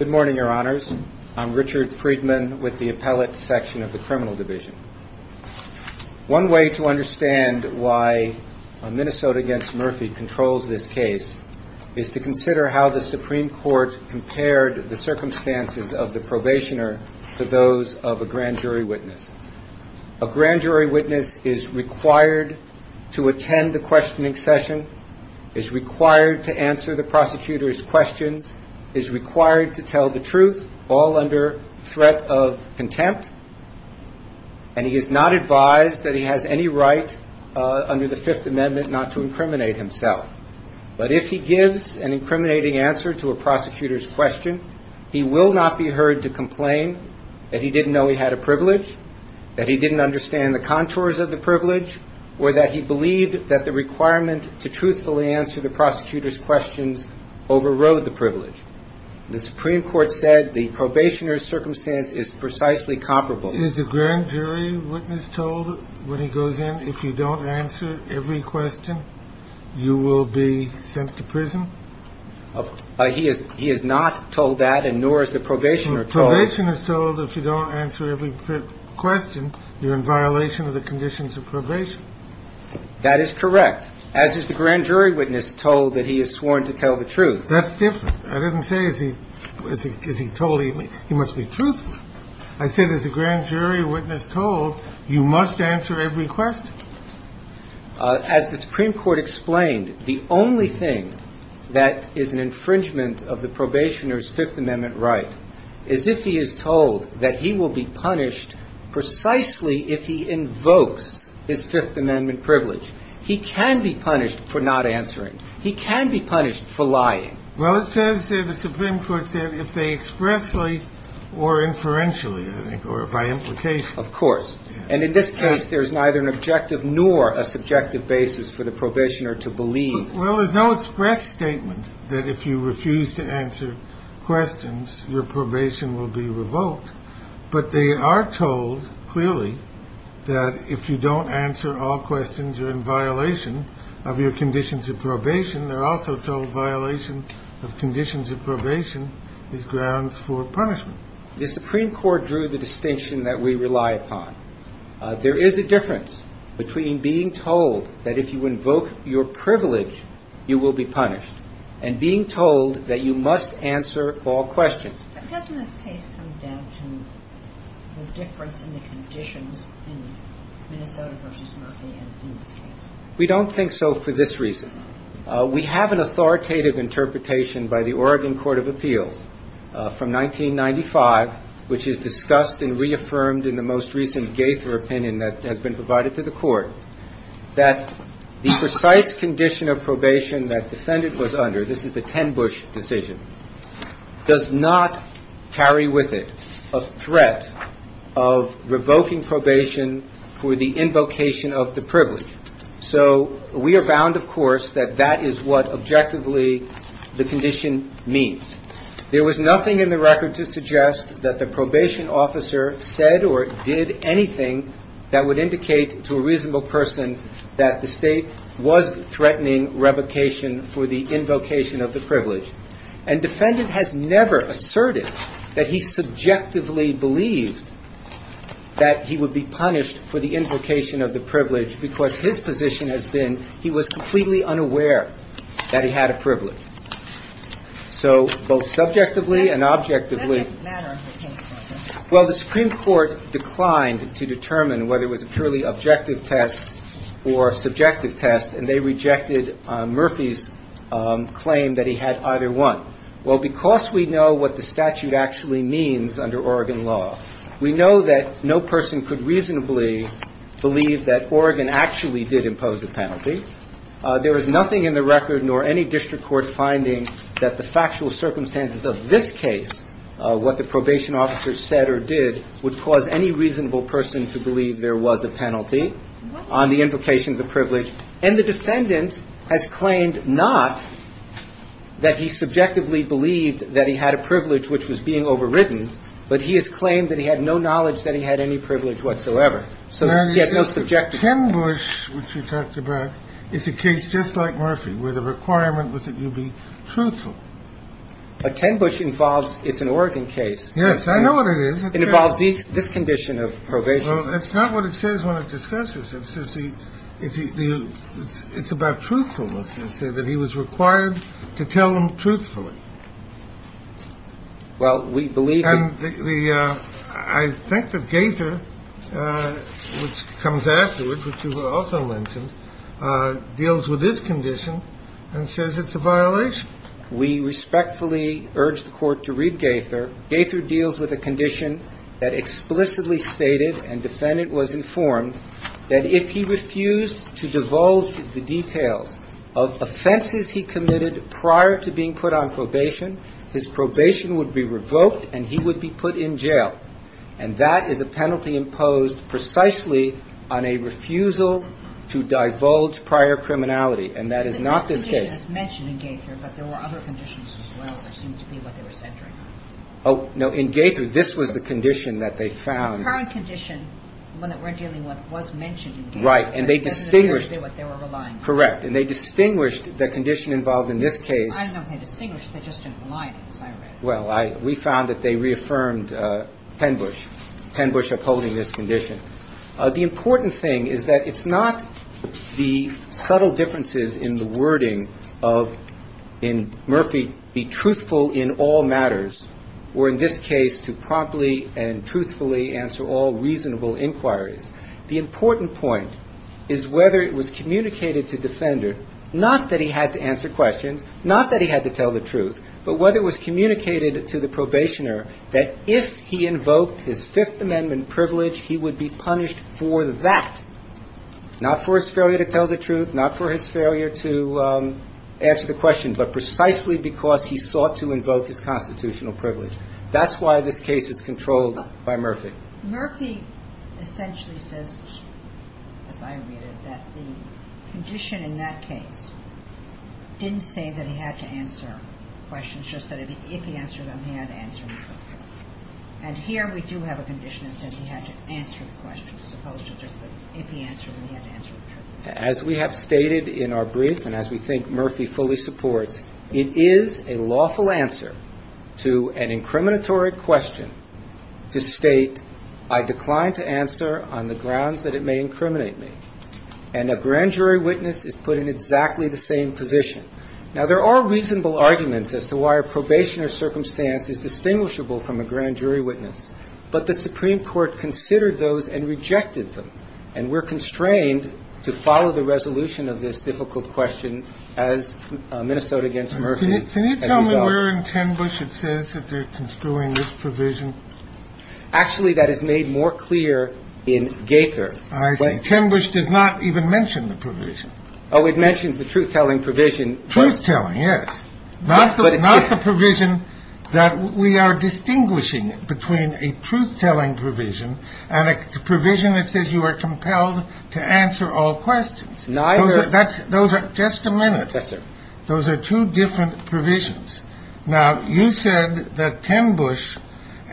Good morning, your honors. I'm Richard Friedman with the Appellate Section of the Criminal Division. One way to understand why Minnesota v. Murphy controls this case is to consider how the Supreme Court compared the circumstances of the probationer to those of a grand jury witness. A grand jury witness is required to attend the questioning session, is required to answer the prosecutor's questions, and is required to tell the truth, all under threat of contempt. And he is not advised that he has any right under the Fifth Amendment not to incriminate himself. But if he gives an incriminating answer to a prosecutor's question, he will not be heard to complain that he didn't know he had a privilege, that he didn't understand the contours of the privilege, or that he believed that the requirement to truthfully answer the prosecutor's questions overrode the privilege. The Supreme Court said the probationer's circumstance is precisely comparable. Is the grand jury witness told when he goes in, if you don't answer every question, you will be sent to prison? He is not told that, and nor is the probationer told. Probation is told if you don't answer every question, you're in violation of the conditions of probation. That is correct, as is the grand jury witness told that he is sworn to tell the truth. That's different. I didn't say, is he told he must be truthful. I said, as the grand jury witness told, you must answer every question. As the Supreme Court explained, the only thing that is an infringement of the probationer's Fifth Amendment right is if he is told that he will be punished precisely if he invokes his Fifth Amendment privilege. He can be punished for not answering. He can be punished for lying. Well, it says there, the Supreme Court said, if they expressly or inferentially, I think, or by implication. Of course. And in this case, there's neither an objective nor a subjective basis for the probationer to believe. Well, there's no express statement that if you refuse to answer questions, your probation will be revoked. But they are told clearly that if you don't answer all questions, you're in violation of your conditions of probation. They're also told violation of conditions of probation is grounds for punishment. The Supreme Court drew the distinction that we rely upon. There is a difference between being told that if you invoke your privilege, you will be punished and being told that you must answer all questions. But doesn't this case come down to the difference in the conditions in Minnesota v. Murphy in this case? We don't think so for this reason. We have an authoritative interpretation by the Oregon Court of Appeals from 1995, which is discussed and reaffirmed in the most recent Gaither opinion that has been provided to the Court, that the precise condition of probation that defendant was under, this is the ten-bush decision, does not carry with it a threat of revoking probation for the invocation of the privilege. So we are bound, of course, that that is what objectively the condition means. There was nothing in the record to suggest that the probation officer said or did anything that would indicate to a reasonable person that the State was threatening revocation for the invocation of the privilege. And defendant has never asserted that he subjectively believed that he would be punished for the invocation of the privilege because his position has been he was completely unaware that he had a privilege. So both subjectively and objectively. Well, the Supreme Court declined to determine whether it was a purely objective test or subjective test, and they rejected Murphy's claim that he had either one. Well, because we know what the statute actually means under Oregon law, we know that no person could reasonably believe that Oregon actually did impose the penalty. There was nothing in the record nor any district court finding that the factual circumstances of this case what the probation officer said or did would cause any reasonable person to believe there was a penalty on the invocation of the privilege. And the defendant has claimed not that he subjectively believed that he had a privilege which was being overwritten, but he has claimed that he had no knowledge that he had any privilege whatsoever. So he has no subjective. 10 Bush, which you talked about, is a case just like Murphy where the requirement was that you be truthful. But 10 Bush involves it's an Oregon case. Yes, I know what it is. It involves this condition of probation. Well, that's not what it says when it discusses it. It's about truthfulness to say that he was required to tell them truthfully. Well, we believe. I think that Gaither, which comes afterwards, which you also mentioned, deals with this condition and says it's a violation. We respectfully urge the Court to read Gaither. Gaither deals with a condition that explicitly stated, and defendant was informed, that if he refused to divulge the details of offenses he committed prior to being put on probation, his probation would be revoked and he would be put in jail. And that is a penalty imposed precisely on a refusal to divulge prior criminality. And that is not this case. It's mentioned in Gaither, but there were other conditions as well that seemed to be what they were centering on. Oh, no. In Gaither, this was the condition that they found. The current condition, the one that we're dealing with, was mentioned in Gaither. Right. And they distinguished. But it doesn't appear to be what they were relying on. Correct. And they distinguished the condition involved in this case. I don't know if they distinguished. They just didn't rely on it, as I read. Well, we found that they reaffirmed 10 Bush, 10 Bush upholding this condition. The important thing is that it's not the subtle differences in the wording of, in Murphy, be truthful in all matters, or in this case, to promptly and truthfully answer all reasonable inquiries. The important point is whether it was communicated to the defender, not that he had to answer questions, not that he had to tell the truth, but whether it was communicated to the probationer that if he invoked his Fifth Amendment privilege, he would be punished for that, not for his failure to tell the truth, not for his failure to answer the question, but precisely because he sought to invoke his constitutional privilege. That's why this case is controlled by Murphy. Murphy essentially says, as I read it, that the condition in that case didn't say that he had to answer questions, it's just that if he answered them, he had to answer them truthfully. And here we do have a condition that says he had to answer the questions, as opposed to just that if he answered them, he had to answer them truthfully. As we have stated in our brief, and as we think Murphy fully supports, it is a lawful answer to an incriminatory question to state, I decline to answer on the grounds that it may incriminate me. And a grand jury witness is put in exactly the same position. Now, there are reasonable arguments as to why a probationer's circumstance is distinguishable from a grand jury witness. But the Supreme Court considered those and rejected them. And we're constrained to follow the resolution of this difficult question as Minnesota against Murphy as a result. Can you tell me where in Tenbush it says that they're construing this provision? Actually, that is made more clear in Gaither. I see. Tenbush does not even mention the provision. Oh, it mentions the truth-telling provision. Truth-telling, yes. But it's here. Not the provision that we are distinguishing between a truth-telling provision and a provision that says you are compelled to answer all questions. Neither. Just a minute. Yes, sir. Those are two different provisions. Now, you said that Tenbush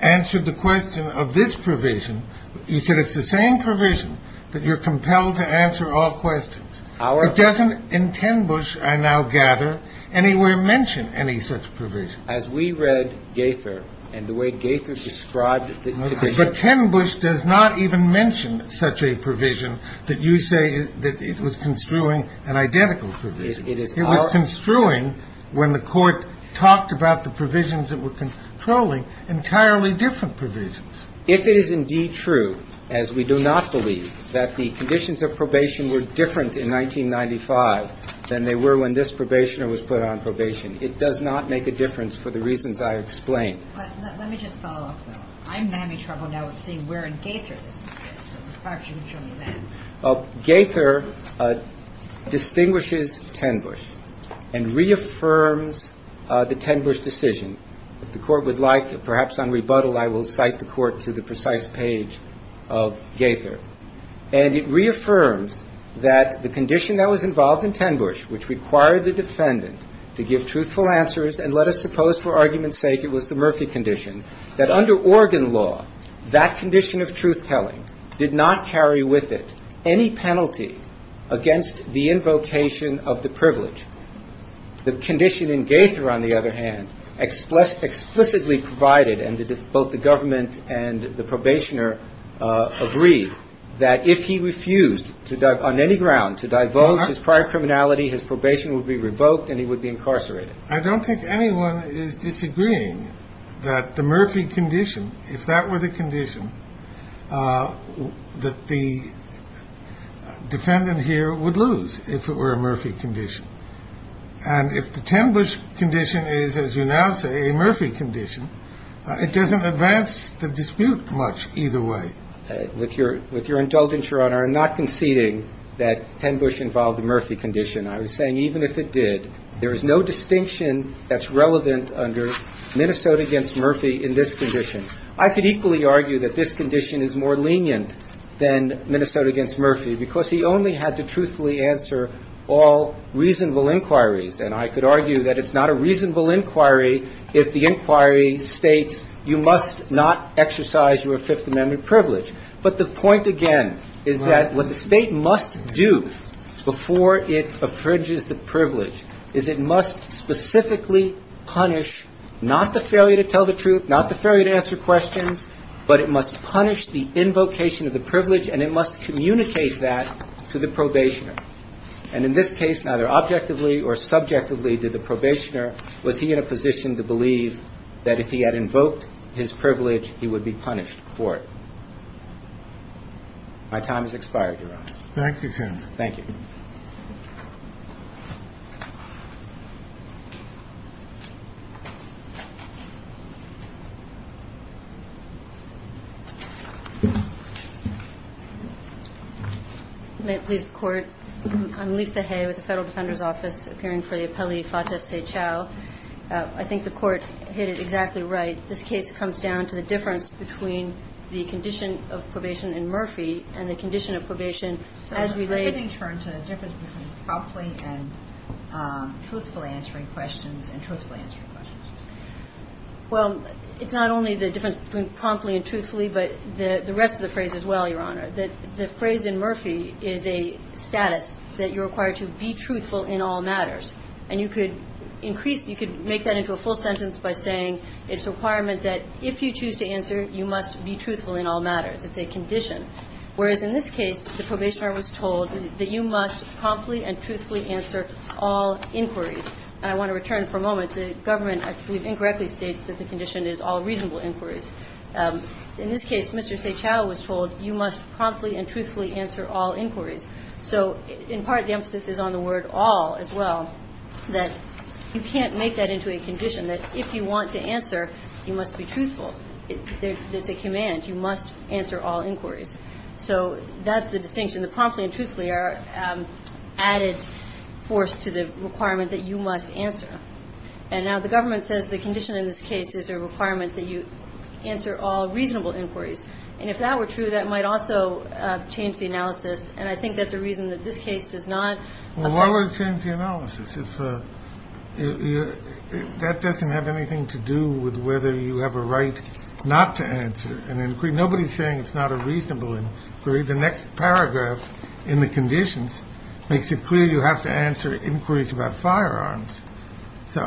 answered the question of this provision. You said it's the same provision that you're compelled to answer all questions. It doesn't, in Tenbush, I now gather, anywhere mention any such provision. As we read Gaither and the way Gaither described it. But Tenbush does not even mention such a provision that you say that it was construing an identical provision. It was construing when the Court talked about the provisions that were controlling entirely different provisions. If it is indeed true, as we do not believe, that the conditions of probation were different in 1995 than they were when this probationer was put on probation, it does not make a difference for the reasons I explained. But let me just follow up, though. I'm having trouble now with saying where in Gaither this is. Perhaps you can show me that. Well, Gaither distinguishes Tenbush and reaffirms the Tenbush decision. If the Court would like, perhaps on rebuttal, I will cite the Court to the precise page of Gaither. And it reaffirms that the condition that was involved in Tenbush, which required the defendant to give truthful answers, and let us suppose for argument's sake it was the Murphy condition, that under Oregon law, that condition of truth-telling did not carry with it any penalty against the invocation of the privilege. The condition in Gaither, on the other hand, explicitly provided, and both the government and the probationer agree, that if he refused on any ground to divulge his prior criminality, his probation would be revoked and he would be incarcerated. I don't think anyone is disagreeing that the Murphy condition, if that were the condition, that the defendant here would lose if it were a Murphy condition. And if the Tenbush condition is, as you now say, a Murphy condition, it doesn't advance the dispute much either way. With your indulgence, Your Honor, I'm not conceding that Tenbush involved the Murphy condition. I was saying even if it did, there is no distinction that's relevant under Minnesota v. Murphy in this condition. I could equally argue that this condition is more lenient than Minnesota v. Murphy because he only had to truthfully answer all reasonable inquiries. And I could argue that it's not a reasonable inquiry if the inquiry states you must not exercise your Fifth Amendment privilege. But the point, again, is that what the State must do before it infringes the privilege is it must specifically punish not the failure to tell the truth, not the failure to answer questions, but it must punish the invocation of the privilege and it must communicate that to the probationer. And in this case, neither objectively or subjectively did the probationer was he in a position to believe that if he had invoked his privilege, he would be punished for it. My time has expired, Your Honor. Thank you, counsel. Thank you. May it please the Court? I'm Lisa Hay with the Federal Defender's Office, appearing for the appellee, Fatah Seychal. I think the Court hit it exactly right. This case comes down to the difference between the condition of probation in Murphy and the condition of probation as related to the difference between promptly and truthfully answering questions and truthfully answering questions. Well, it's not only the difference between promptly and truthfully, but the rest of the phrase as well, Your Honor. The phrase in Murphy is a status that you're required to be truthful in all matters. And you could increase, you could make that into a full sentence by saying it's a requirement that if you choose to answer, you must be truthful in all matters. It's a condition. Whereas in this case, the probationer was told that you must promptly and truthfully answer all inquiries. And I want to return for a moment. The government, I believe, incorrectly states that the condition is all reasonable inquiries. In this case, Mr. Seychal was told you must promptly and truthfully answer all inquiries. So in part, the emphasis is on the word all as well, that you can't make that into a condition, that if you want to answer, you must be truthful. It's a command. You must answer all inquiries. So that's the distinction, the promptly and truthfully are added force to the requirement that you must answer. And now the government says the condition in this case is a requirement that you answer all reasonable inquiries. And if that were true, that might also change the analysis. And I think that's a reason that this case does not. Well, why would it change the analysis if that doesn't have anything to do with whether you have a right not to answer an inquiry? Nobody's saying it's not a reasonable inquiry. The next paragraph in the conditions makes it clear you have to answer inquiries about firearms. So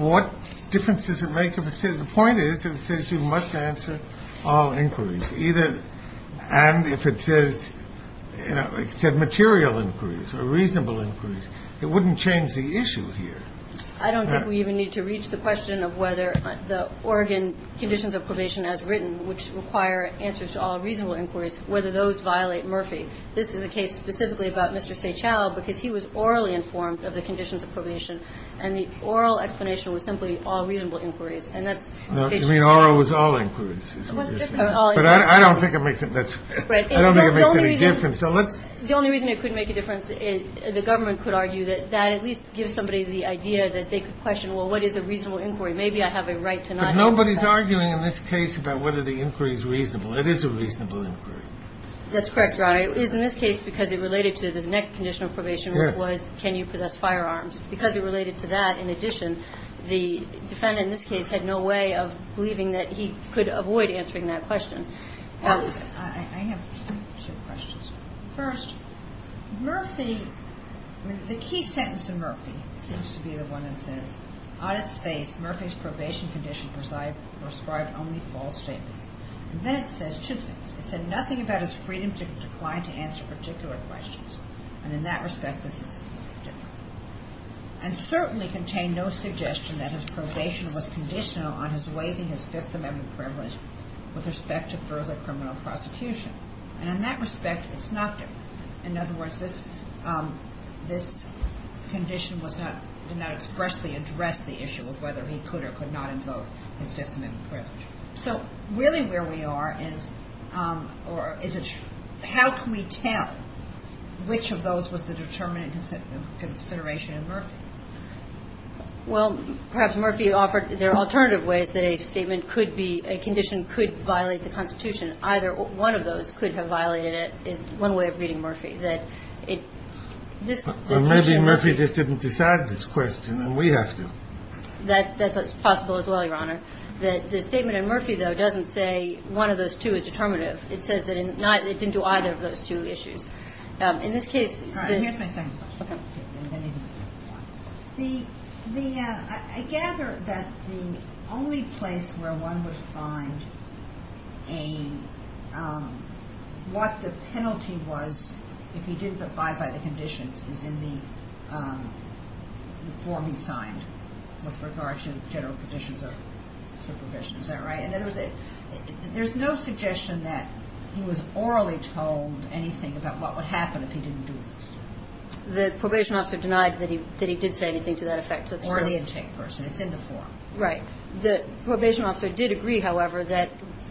what difference does it make if it says the point is that it says you must answer all inquiries, either and if it says, like I said, material inquiries or reasonable inquiries. It wouldn't change the issue here. I don't think we even need to reach the question of whether the Oregon conditions of probation as written, which require answers to all reasonable inquiries, whether those violate Murphy. This is a case specifically about Mr. Seychell, because he was orally informed of the conditions of probation, and the oral explanation was simply all reasonable inquiries. And that's the case. I mean, oral was all inquiries. But I don't think it makes it. I don't think it makes any difference. The only reason it could make a difference, the government could argue that that would at least give somebody the idea that they could question, well, what is a reasonable inquiry? Maybe I have a right to not answer that. But nobody's arguing in this case about whether the inquiry is reasonable. It is a reasonable inquiry. That's correct, Your Honor. It is in this case because it related to the next condition of probation, which was can you possess firearms. Because it related to that, in addition, the defendant in this case had no way of believing that he could avoid answering that question. I have two questions. First, Murphy, the key sentence in Murphy seems to be the one that says, on its face, Murphy's probation condition prescribed only false statements. And then it says two things. It said nothing about his freedom to decline to answer particular questions. And in that respect, this is different. And certainly contained no suggestion that his probation was conditional on his waiving his Fifth Amendment privilege with respect to further criminal prosecution. And in that respect, it's not different. In other words, this condition did not expressly address the issue of whether he could or could not invoke his Fifth Amendment privilege. So really where we are is how can we tell which of those was the determinant consideration in Murphy? Well, perhaps Murphy offered there are alternative ways that a statement could be, a condition could violate the Constitution. Either one of those could have violated it is one way of reading Murphy. That it, this. Well, maybe Murphy just didn't decide this question, and we have to. That's possible as well, Your Honor. That the statement in Murphy, though, doesn't say one of those two is determinative. It says that it didn't do either of those two issues. All right. Here's my second question. Okay. The, I gather that the only place where one would find a, what the penalty was if he didn't abide by the conditions is in the form he signed with regard to general conditions of supervision. Is that right? In other words, there's no suggestion that he was orally told anything about what would happen if he didn't do this. The probation officer denied that he did say anything to that effect, so it's true. Orally intake person. It's in the form. Right. The probation officer did agree, however, that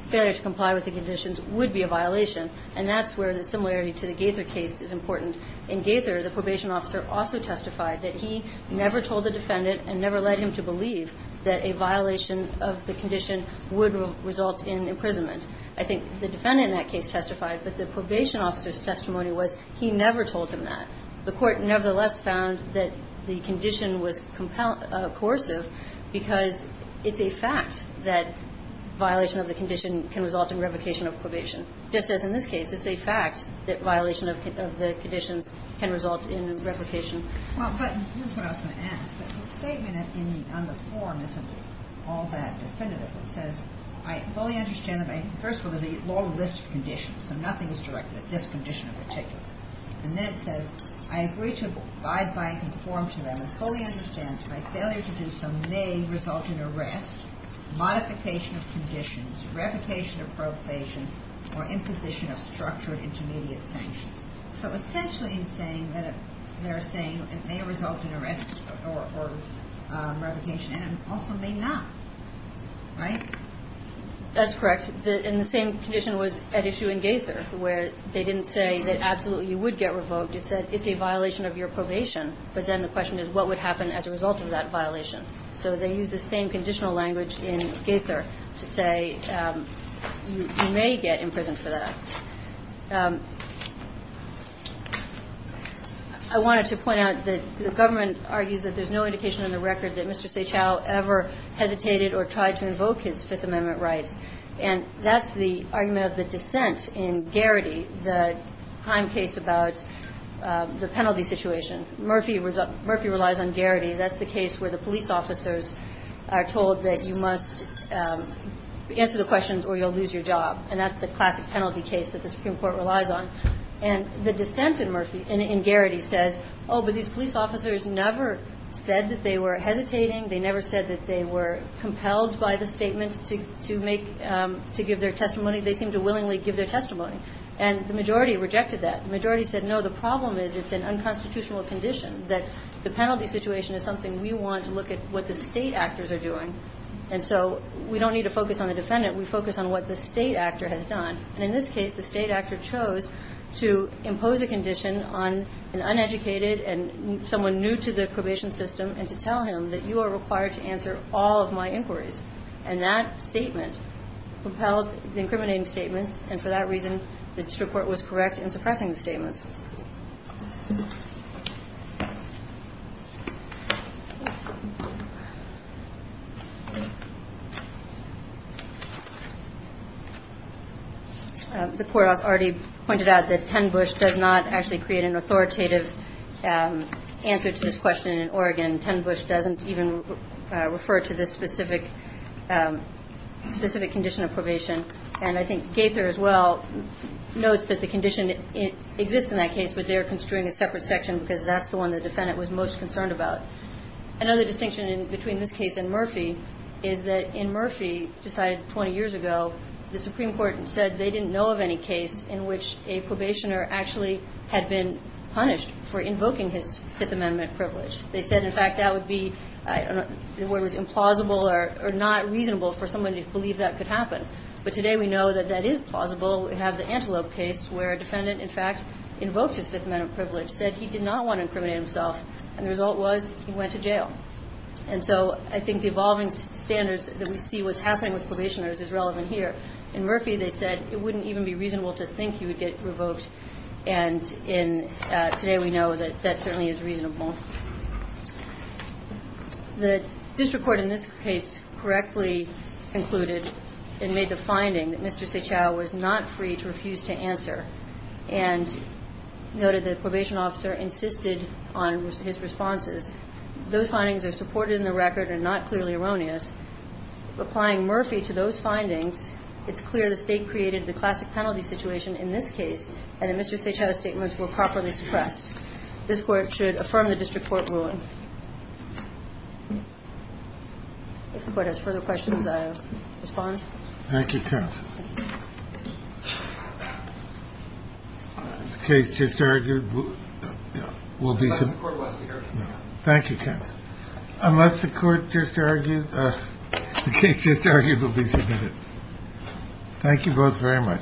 failure to comply with the conditions would be a violation, and that's where the similarity to the Gaither case is important. In Gaither, the probation officer also testified that he never told the defendant and never led him to believe that a violation of the condition would result in imprisonment. I think the defendant in that case testified, but the probation officer's testimony was he never told him that. The Court nevertheless found that the condition was coercive because it's a fact that violation of the condition can result in replication of probation, just as in this case it's a fact that violation of the conditions can result in replication. Well, but this is what I was going to ask. The statement on the form isn't all that definitive. It says, I fully understand that, first of all, there's a long list of conditions, so nothing is directed at this condition in particular. And then it says, I agree to abide by and conform to them and fully understand that my failure to do so may result in arrest, modification of conditions, replication of probation, or imposition of structured intermediate sanctions. So essentially they're saying it may result in arrest or replication, and it also may not. Right? That's correct. And the same condition was at issue in Gaither, where they didn't say that absolutely you would get revoked. It said it's a violation of your probation. But then the question is what would happen as a result of that violation. So they used the same conditional language in Gaither to say you may get in prison for that. I wanted to point out that the government argues that there's no indication in the record that Mr. Seychell ever hesitated or tried to invoke his Fifth Amendment rights. And that's the argument of the dissent in Garrity, the crime case about the penalty situation. Murphy relies on Garrity. That's the case where the police officers are told that you must answer the questions or you'll lose your job. And that's the classic penalty case that the Supreme Court relies on. And the dissent in Garrity says, oh, but these police officers never said that they were hesitating. They never said that they were compelled by the statement to give their testimony. They seemed to willingly give their testimony. And the majority rejected that. The majority said, no, the problem is it's an unconstitutional condition, that the penalty situation is something we want to look at what the State actors are doing. And so we don't need to focus on the defendant. We focus on what the State actor has done. And in this case, the State actor chose to impose a condition on an uneducated and someone new to the probation system and to tell him that you are required to answer all of my inquiries. And that statement compelled the incriminating statements. And for that reason, the district court was correct in suppressing the statements. The courthouse already pointed out that 10 Bush does not actually create an authoritative answer to this question in Oregon. 10 Bush doesn't even refer to this specific condition of probation. And I think Gaither as well notes that the condition exists in that case, but they are construing a separate section because that's the one the defendant was most concerned about. Another distinction between this case and Murphy is that in Murphy, decided 20 years ago, the Supreme Court said they didn't know of any case in which a probationer actually had been punished for invoking his Fifth Amendment privilege. They said, in fact, that would be implausible or not reasonable for someone to believe that could happen. But today we know that that is plausible. We have the Antelope case where a defendant, in fact, invokes his Fifth Amendment privilege, said he did not want to incriminate himself. And the result was he went to jail. And so I think the evolving standards that we see what's happening with probationers is relevant here. In Murphy, they said it wouldn't even be reasonable to think he would get revoked and in today we know that that certainly is reasonable. The district court in this case correctly concluded and made the finding that Mr. Seaciao was not free to refuse to answer and noted that the probation officer insisted on his responses. Those findings are supported in the record and not clearly erroneous. Applying Murphy to those findings, it's clear the State created the classic penalty situation in this case and that Mr. Seaciao's statements were properly suppressed. This Court should affirm the district court ruling. If the Court has further questions, I'll respond. Thank you, counsel. The case just argued will be submitted. Thank you, counsel. Unless the Court just argued, the case just argued will be submitted. Thank you both very much. Thank you. Thank you.